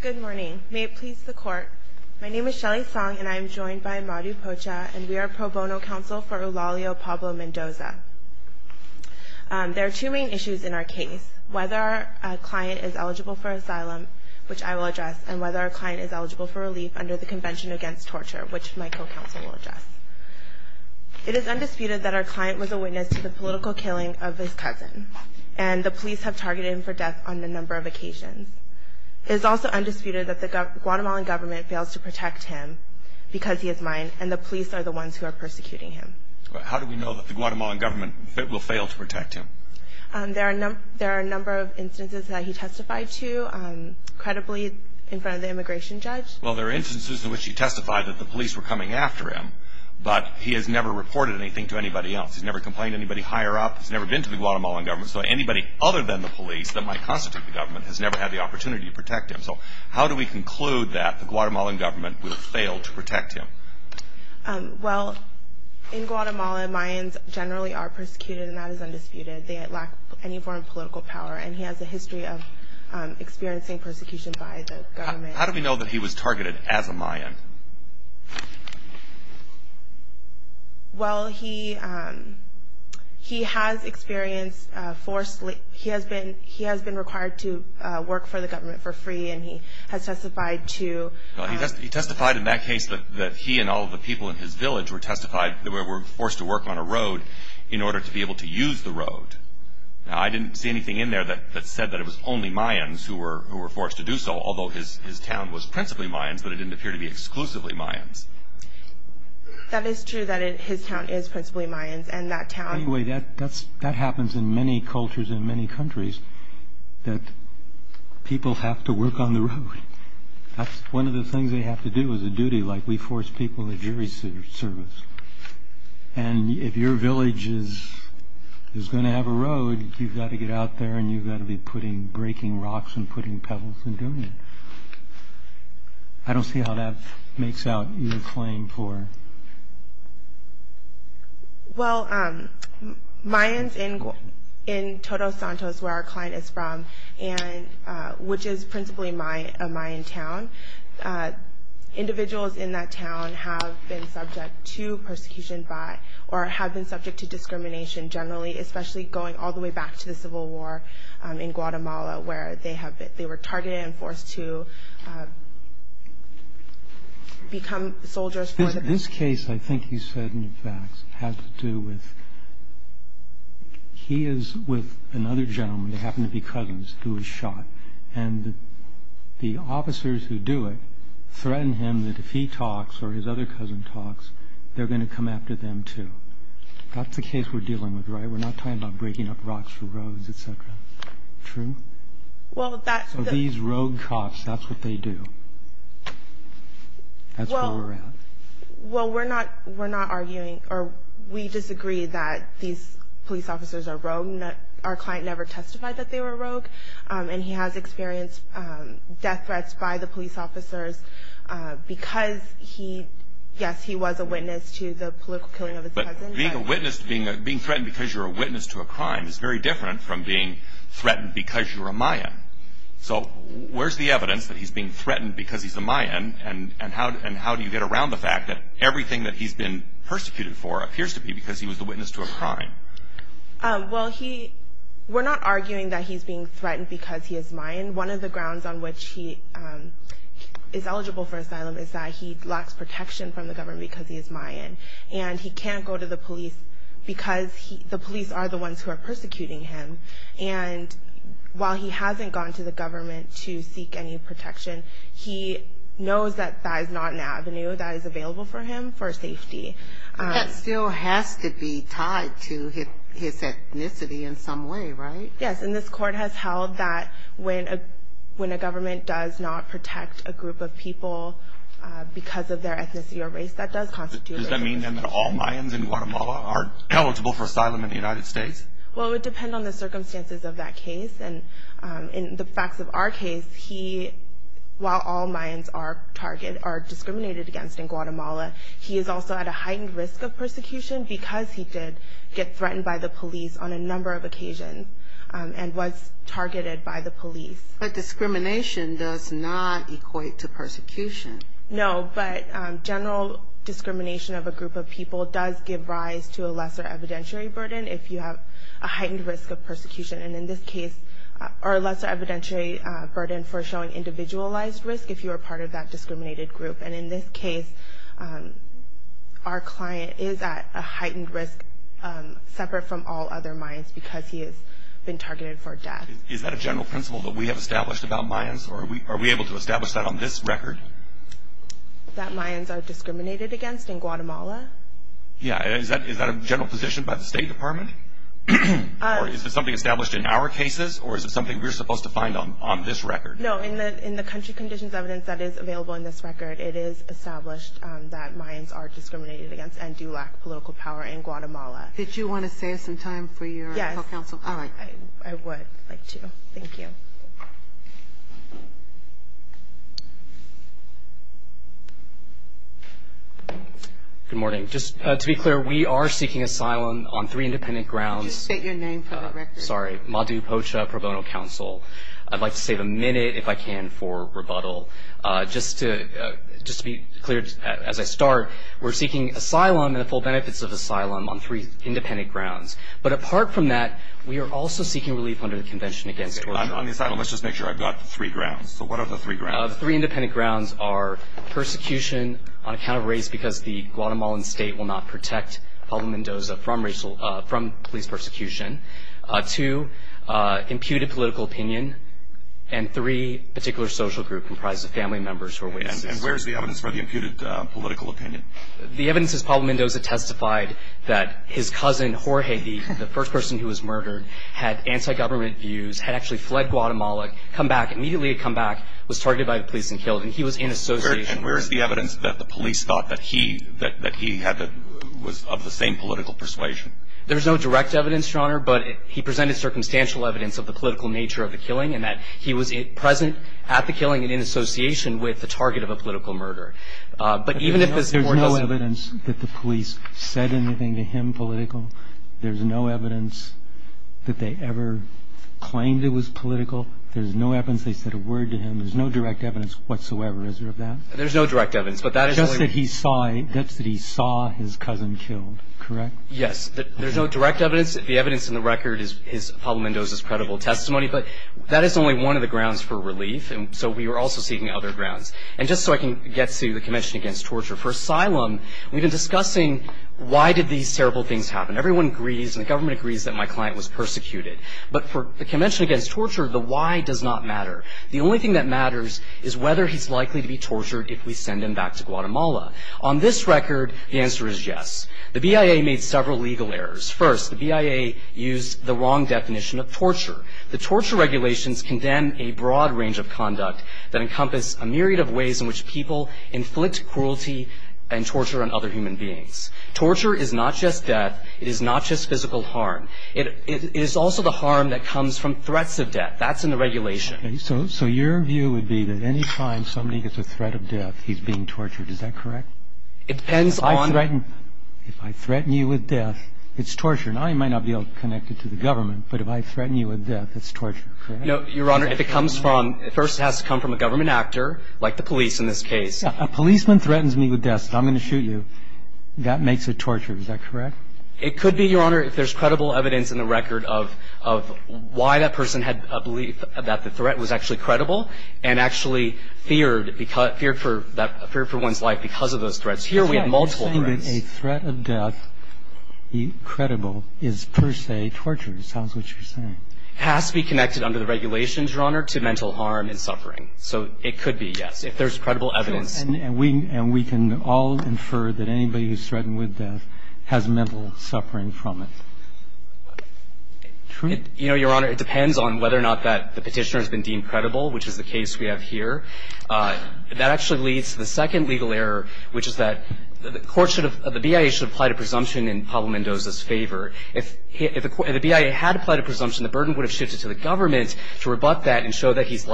Good morning. May it please the court. My name is Shelly Song and I am joined by Madhu Pocha and we are pro bono counsel for Eulalio Pablo-Mendoza. There are two main issues in our case, whether our client is eligible for asylum, which I will address, and whether our client is eligible for relief under the Convention Against Torture, which my co-counsel will address. It is undisputed that our client was a witness to the political killing of his cousin, and the police have targeted him for death on a number of occasions. It is also undisputed that the Guatemalan government fails to protect him because he is mine, and the police are the ones who are persecuting him. How do we know that the Guatemalan government will fail to protect him? There are a number of instances that he testified to, credibly, in front of the immigration judge. Well, there are instances in which he testified that the police were coming after him, but he has never reported anything to anybody else. He has never complained to anybody higher up. He has never been to the Guatemalan government. So anybody other than the police that might constitute the government has never had the opportunity to protect him. So how do we conclude that the Guatemalan government will fail to protect him? Well, in Guatemala, Mayans generally are persecuted, and that is undisputed. They lack any form of political power, and he has a history of experiencing persecution by the government. Well, he has experienced, he has been required to work for the government for free, and he has testified to... He testified in that case that he and all of the people in his village were forced to work on a road in order to be able to use the road. Now, I didn't see anything in there that said that it was only Mayans who were forced to do so, although his town was principally Mayans, but it didn't appear to be exclusively Mayans. That is true that his town is principally Mayans, and that town... Anyway, that happens in many cultures in many countries, that people have to work on the road. That's one of the things they have to do as a duty, like we force people to do service. And if your village is going to have a road, you've got to get out there and you've got to be putting... breaking rocks and putting pebbles and doing it. I don't see how that makes out your claim for... Well, Mayans in Todos Santos, where our client is from, which is principally a Mayan town, individuals in that town have been subject to persecution by... or have been subject to discrimination, generally, especially going all the way back to the Civil War in Guatemala, where they were targeted and forced to become soldiers for the... This case, I think you said, in fact, has to do with... He is with another gentleman, who happened to be cousins, who was shot. And the officers who do it threaten him that if he talks or his other cousin talks, they're going to come after them, too. That's the case we're dealing with, right? We're not talking about breaking up rocks for roads, etc. True? Well, that's... So these rogue cops, that's what they do. That's where we're at. Well, we're not arguing, or we disagree that these police officers are rogue. Our client never testified that they were rogue. And he has experienced death threats by the police officers because he... Yes, he was a witness to the political killing of his cousin. But being threatened because you're a witness to a crime is very different from being threatened because you're a Mayan. So where's the evidence that he's being threatened because he's a Mayan? And how do you get around the fact that everything that he's been persecuted for appears to be because he was the witness to a crime? Well, we're not arguing that he's being threatened because he is Mayan. One of the grounds on which he is eligible for asylum is that he lacks protection from the government because he is Mayan. And he can't go to the police because the police are the ones who are persecuting him. And while he hasn't gone to the government to seek any protection, he knows that that is not an avenue that is available for him for safety. But that still has to be tied to his ethnicity in some way, right? Yes, and this court has held that when a government does not protect a group of people because of their ethnicity or race, that does constitute... Does that mean then that all Mayans in Guatemala are eligible for asylum in the United States? Well, it would depend on the circumstances of that case. And in the facts of our case, while all Mayans are discriminated against in Guatemala, he is also at a heightened risk of persecution because he did get threatened by the police on a number of occasions and was targeted by the police. But discrimination does not equate to persecution. No, but general discrimination of a group of people does give rise to a lesser evidentiary burden if you have a heightened risk of persecution, or a lesser evidentiary burden for showing individualized risk if you are part of that discriminated group. And in this case, our client is at a heightened risk separate from all other Mayans because he has been targeted for death. Is that a general principle that we have established about Mayans, or are we able to establish that on this record? That Mayans are discriminated against in Guatemala? Yeah, is that a general position by the State Department? Or is it something established in our cases, or is it something we're supposed to find on this record? No, in the country conditions evidence that is available in this record, it is established that Mayans are discriminated against and do lack political power in Guatemala. Did you want to save some time for your counsel? Yes. All right. I would like to. Thank you. Good morning. Just to be clear, we are seeking asylum on three independent grounds. Could you state your name for the record? Sorry, Madhu Pocha, Pro Bono Council. I'd like to save a minute, if I can, for rebuttal. Just to be clear, as I start, we're seeking asylum and the full benefits of asylum on three independent grounds. But apart from that, we are also seeking relief under the Convention Against Torture. On the asylum, let's just make sure I've got the three grounds. So what are the three grounds? The three independent grounds are persecution on account of race because the Guatemalan state will not protect Pablo Mendoza from police persecution. Two, imputed political opinion. And three, a particular social group comprised of family members who are racist. And where is the evidence for the imputed political opinion? The evidence is Pablo Mendoza testified that his cousin Jorge, the first person who was murdered, had anti-government views, had actually fled Guatemala, come back, immediately had come back, was targeted by the police and killed, and he was in association. And where is the evidence that the police thought that he was of the same political persuasion? There's no direct evidence, Your Honor, but he presented circumstantial evidence of the political nature of the killing and that he was present at the killing and in association with the target of a political murder. But even if this court doesn't – There's no evidence that the police said anything to him political. There's no evidence that they ever claimed it was political. There's no evidence they said a word to him. There's no direct evidence whatsoever. Is there of that? There's no direct evidence, but that is – Just that he saw – just that he saw his cousin killed, correct? Yes. There's no direct evidence. The evidence in the record is Pablo Mendoza's credible testimony, but that is only one of the grounds for relief, and so we are also seeking other grounds. And just so I can get to the Convention Against Torture, for asylum, we've been discussing why did these terrible things happen. Everyone agrees, and the government agrees, that my client was persecuted. But for the Convention Against Torture, the why does not matter. The only thing that matters is whether he's likely to be tortured if we send him back to Guatemala. On this record, the answer is yes. The BIA made several legal errors. First, the BIA used the wrong definition of torture. The torture regulations condemn a broad range of conduct that encompass a myriad of ways in which people inflict cruelty and torture on other human beings. Torture is not just death. It is not just physical harm. It is also the harm that comes from threats of death. That's in the regulation. So your view would be that any time somebody gets a threat of death, he's being tortured. Is that correct? It depends on – If I threaten you with death, it's torture. Now, you might not be connected to the government, but if I threaten you with death, it's torture. Correct? No, Your Honor. If it comes from – first, it has to come from a government actor, like the police in this case. A policeman threatens me with death, says, I'm going to shoot you. That makes it torture. Is that correct? It could be, Your Honor, if there's credible evidence in the record of why that person had a belief that the threat was actually credible and actually feared for one's life because of those threats. Here, we have multiple threats. You're saying that a threat of death, credible, is per se torture. It sounds like what you're saying. It has to be connected under the regulations, Your Honor, to mental harm and suffering. So it could be, yes, if there's credible evidence. True. And we can all infer that anybody who's threatened with death has mental suffering from it. True. You know, Your Honor, it depends on whether or not that the Petitioner has been deemed credible, which is the case we have here. That actually leads to the second legal error, which is that the BIA should apply to presumption in Pablo Mendoza's favor. If the BIA had applied a presumption, the burden would have shifted to the government to rebut that and show that he's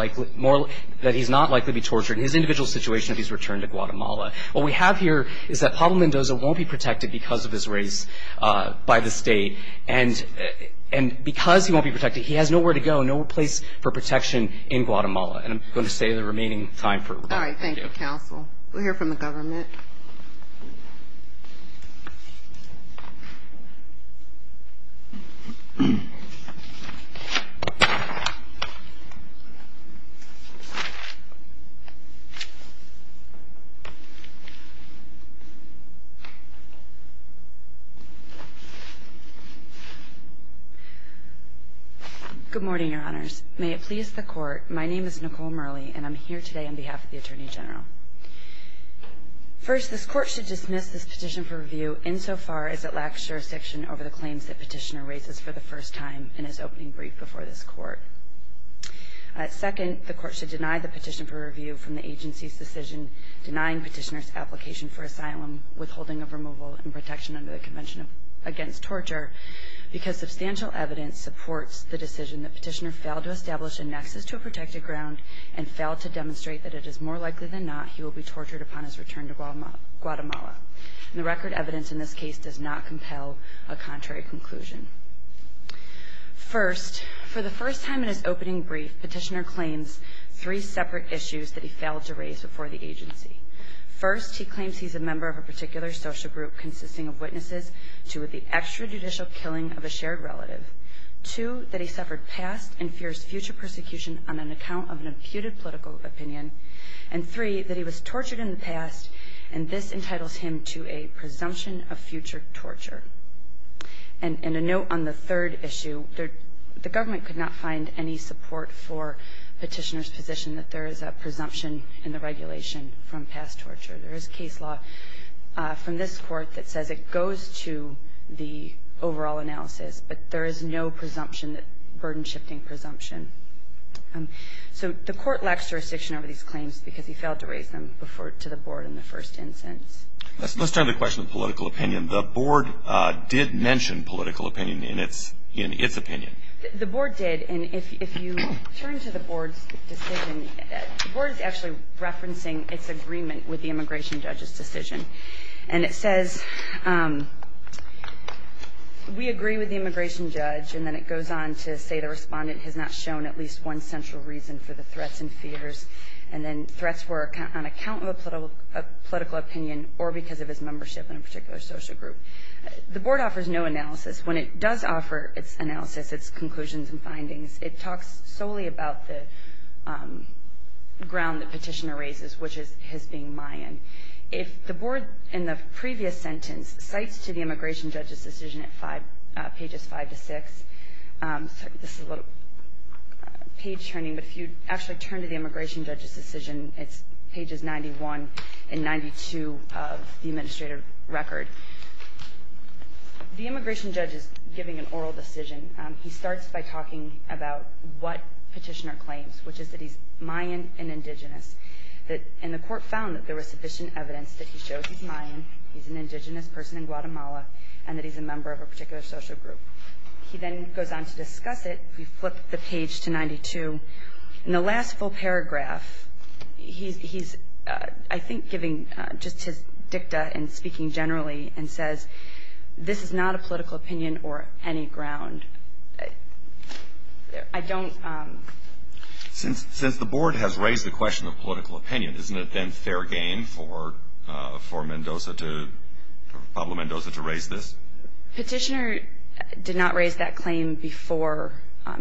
not likely to be tortured in his individual situation if he's returned to Guatemala. What we have here is that Pablo Mendoza won't be protected because of his race by the state. And because he won't be protected, he has nowhere to go, no place for protection in Guatemala. And I'm going to save the remaining time for rebuttal. All right. Thank you, counsel. We'll hear from the government. Good morning, Your Honors. May it please the Court. My name is Nicole Murley, and I'm here today on behalf of the Attorney General. First, this Court should dismiss this petition for review insofar as it lacks jurisdiction over the claims that Petitioner raises for the first time in his opening brief before this Court. Second, the Court should deny the petition for review from the agency's decision denying Petitioner's application for asylum, withholding of removal, and protection under the Convention Against Torture because substantial evidence supports the decision that Petitioner failed to establish a nexus to a protected ground and failed to demonstrate that it is more likely than not he will be tortured upon his return to Guatemala. And the record evidence in this case does not compel a contrary conclusion. First, for the first time in his opening brief, Petitioner claims three separate issues that he failed to raise before the agency. First, he claims he's a member of a particular social group consisting of witnesses to the extrajudicial killing of a shared relative. Two, that he suffered past and fierce future persecution on an account of an imputed political opinion. And three, that he was tortured in the past, and this entitles him to a presumption of future torture. And a note on the third issue, the government could not find any support for Petitioner's position that there is a presumption in the regulation from past torture. There is case law from this Court that says it goes to the overall analysis, but there is no presumption, burden-shifting presumption. So the Court lacks jurisdiction over these claims because he failed to raise them to the Board in the first instance. Let's turn to the question of political opinion. The Board did mention political opinion in its opinion. The Board did, and if you turn to the Board's decision, the Board is actually referencing its agreement with the immigration judge's decision. And it says, we agree with the immigration judge, and then it goes on to say the respondent has not shown at least one central reason for the threats and fears. And then threats were on account of a political opinion or because of his membership in a particular social group. The Board offers no analysis. When it does offer its analysis, its conclusions and findings, it talks solely about the ground that Petitioner raises, which is his being Mayan. If the Board, in the previous sentence, cites to the immigration judge's decision at pages 5 to 6, this is a little page turning, but if you actually turn to the immigration judge's decision, it's pages 91 and 92 of the administrative record. The immigration judge is giving an oral decision. He starts by talking about what Petitioner claims, which is that he's Mayan and indigenous, and the court found that there was sufficient evidence that he shows he's Mayan, he's an indigenous person in Guatemala, and that he's a member of a particular social group. He then goes on to discuss it. If you flip the page to 92, in the last full paragraph, he's, I think, giving just his dicta and speaking generally and says this is not a political opinion or any ground. I don't ---- Since the Board has raised the question of political opinion, isn't it then fair game for Mendoza to, Pablo Mendoza, to raise this? Petitioner did not raise that claim before,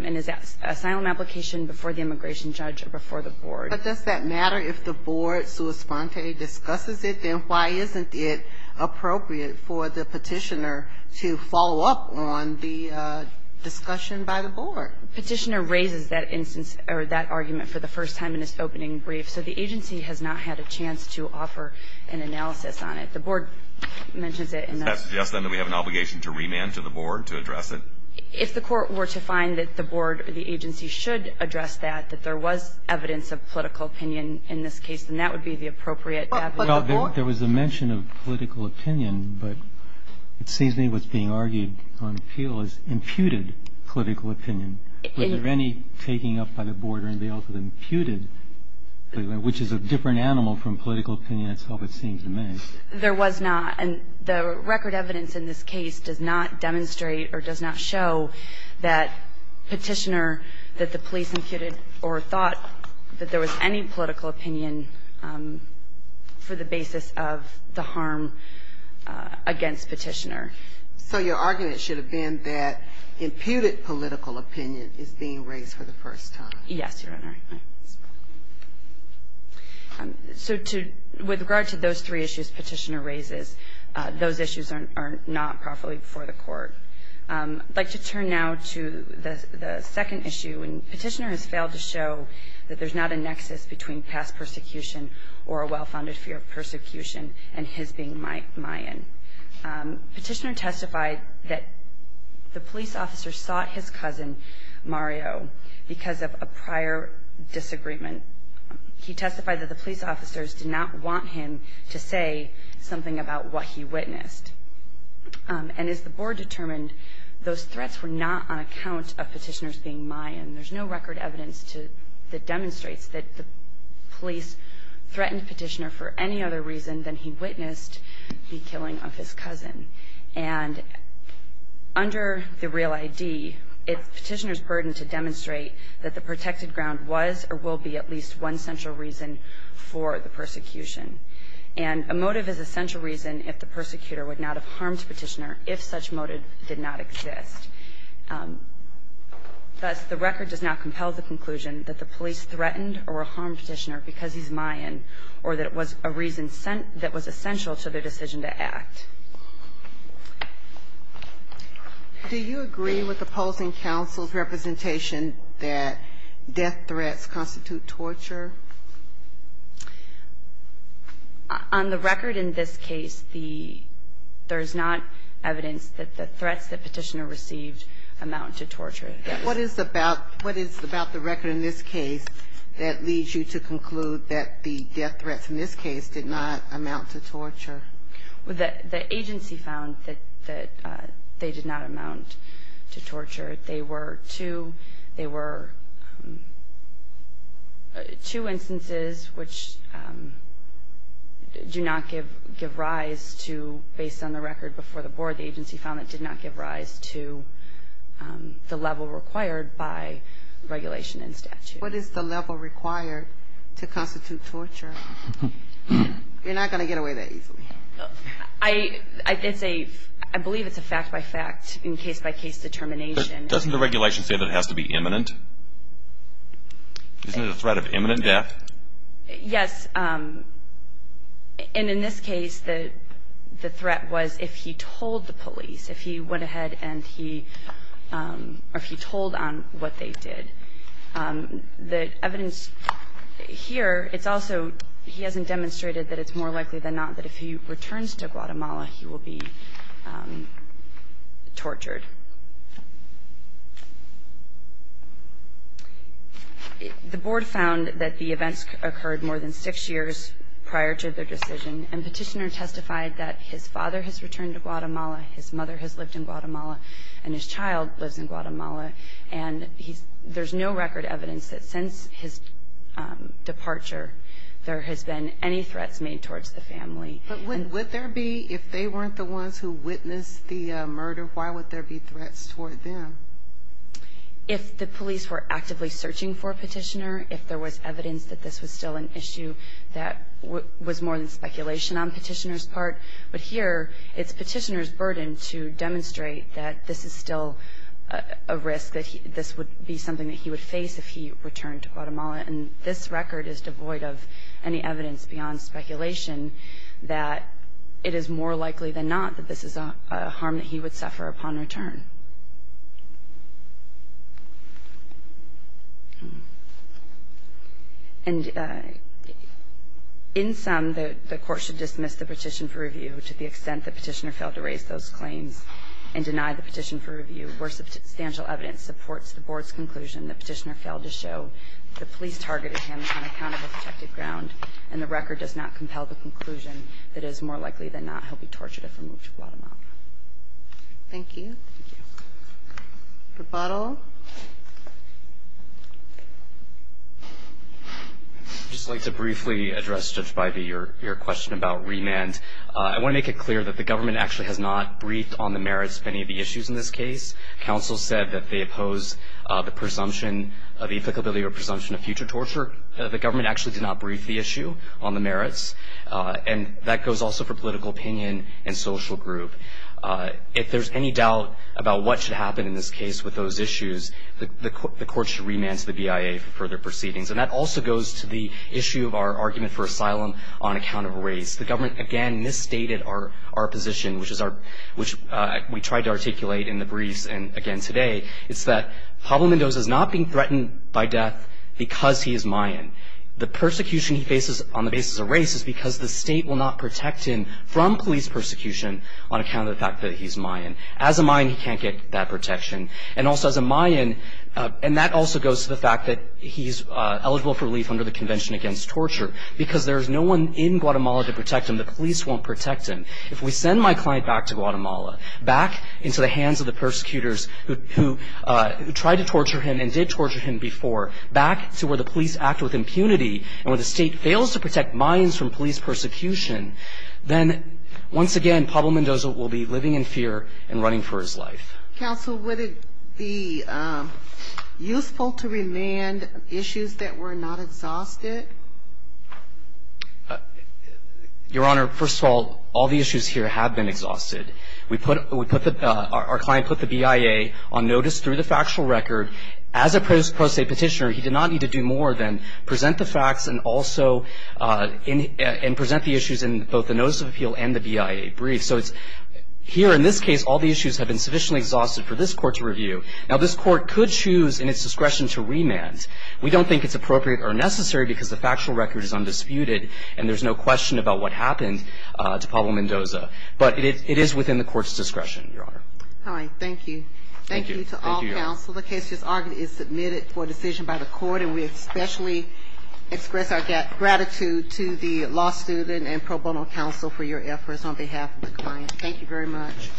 in his asylum application, before the immigration judge or before the Board. But does that matter if the Board, sua sponte, discusses it? Then why isn't it appropriate for the Petitioner to follow up on the discussion by the Board? Petitioner raises that instance or that argument for the first time in his opening brief. So the agency has not had a chance to offer an analysis on it. The Board mentions it in the ---- Does that suggest, then, that we have an obligation to remand to the Board to address it? If the court were to find that the Board or the agency should address that, that there was evidence of political opinion in this case, then that would be the appropriate evidence. Well, there was a mention of political opinion, but it seems to me what's being argued on appeal is imputed political opinion. Was there any taking up by the Board or anything else that imputed, which is a different animal from political opinion itself, it seems to me. There was not. And the record evidence in this case does not demonstrate or does not show that Petitioner, that the police imputed or thought that there was any political opinion for the basis of the harm against Petitioner. So your argument should have been that imputed political opinion is being raised for the first time. Yes, Your Honor. So to ---- with regard to those three issues Petitioner raises, those issues are not properly before the court. I'd like to turn now to the second issue, and Petitioner has failed to show that there's not a nexus between past persecution or a well-founded fear of persecution and his being Mayan. Petitioner testified that the police officer sought his cousin, Mario, because of a prior disagreement. He testified that the police officers did not want him to say something about what he witnessed. And as the Board determined, those threats were not on account of Petitioner's being Mayan. There's no record evidence that demonstrates that the police threatened Petitioner for any other reason than he witnessed the killing of his cousin. And under the real ID, it's Petitioner's burden to demonstrate that the protected ground was or will be at least one central reason for the persecution. And a motive is a central reason if the persecutor would not have harmed Petitioner if such motive did not exist. Thus, the record does not compel the conclusion that the police threatened or harmed Petitioner because he's Mayan or that it was a reason sent that was essential to their decision to act. Do you agree with opposing counsel's representation that death threats constitute torture? On the record in this case, there is not evidence that the threats that Petitioner received amount to torture. What is about the record in this case that leads you to conclude that the death threats in this case did not amount to torture? The agency found that they did not amount to torture. They were two instances which do not give rise to, based on the record before the board, the agency found it did not give rise to the level required by regulation and statute. What is the level required to constitute torture? You're not going to get away that easily. I believe it's a fact-by-fact and case-by-case determination. Doesn't the regulation say that it has to be imminent? Isn't it a threat of imminent death? Yes. And in this case, the threat was if he told the police, if he went ahead and he told on what they did. The evidence here, it's also he hasn't demonstrated that it's more likely than not that if he returns to Guatemala, he will be tortured. The board found that the events occurred more than six years prior to their decision, and Petitioner testified that his father has returned to Guatemala, his mother has lived in Guatemala, and his child lives in Guatemala, and there's no record evidence that since his departure there has been any threats made towards the family. But would there be if they weren't the ones who witnessed the murder, why would there be threats toward them? If the police were actively searching for Petitioner, if there was evidence that this was still an issue, that was more than speculation on Petitioner's part. But here, it's Petitioner's burden to demonstrate that this is still a risk, that this would be something that he would face if he returned to Guatemala, and this record is devoid of any evidence beyond speculation that it is more likely than not that this is a harm that he would suffer upon return. And in sum, the Court should dismiss the petition for review to the extent that Petitioner failed to raise those claims and deny the petition for review where substantial evidence supports the Board's conclusion that Petitioner failed to show the police targeted him on account of a protected ground, and the record does not compel the conclusion that it is more likely than not he'll be tortured if removed to Guatemala. Thank you. Thank you. Rebuttal? I'd just like to briefly address, Judge Bybee, your question about remand. I want to make it clear that the government actually has not briefed on the merits of any of the issues in this case. Counsel said that they oppose the presumption of the applicability or presumption of future torture. The government actually did not brief the issue on the merits, and that goes also for political opinion and social group. If there's any doubt about what should happen in this case with those issues, the Court should remand to the BIA for further proceedings. And that also goes to the issue of our argument for asylum on account of race. The government, again, misstated our position, which we tried to articulate in the briefs and again today. It's that Pablo Mendoza is not being threatened by death because he is Mayan. The persecution he faces on the basis of race is because the state will not protect him from police persecution on account of the fact that he's Mayan. As a Mayan, he can't get that protection. And also as a Mayan, and that also goes to the fact that he's eligible for relief under the Convention Against Torture because there's no one in Guatemala to protect him. The police won't protect him. If we send my client back to Guatemala, back into the hands of the persecutors who tried to torture him and did torture him before, back to where the police act with impunity and where the state fails to protect Mayans from police persecution, then once again, Pablo Mendoza will be living in fear and running for his life. Counsel, would it be useful to remand issues that were not exhausted? Your Honor, first of all, all the issues here have been exhausted. We put the ‑‑ our client put the BIA on notice through the factual record. As a pro se petitioner, he did not need to do more than present the facts and also and present the issues in both the notice of appeal and the BIA brief. So here in this case, all the issues have been sufficiently exhausted for this court to review. Now, this court could choose in its discretion to remand. We don't think it's appropriate or necessary because the factual record is undisputed and there's no question about what happened to Pablo Mendoza. But it is within the court's discretion, Your Honor. All right. Thank you. Thank you to all counsel. The case is submitted for decision by the court, and we especially express our gratitude to the law student and pro bono counsel for your efforts on behalf of the client. Thank you very much.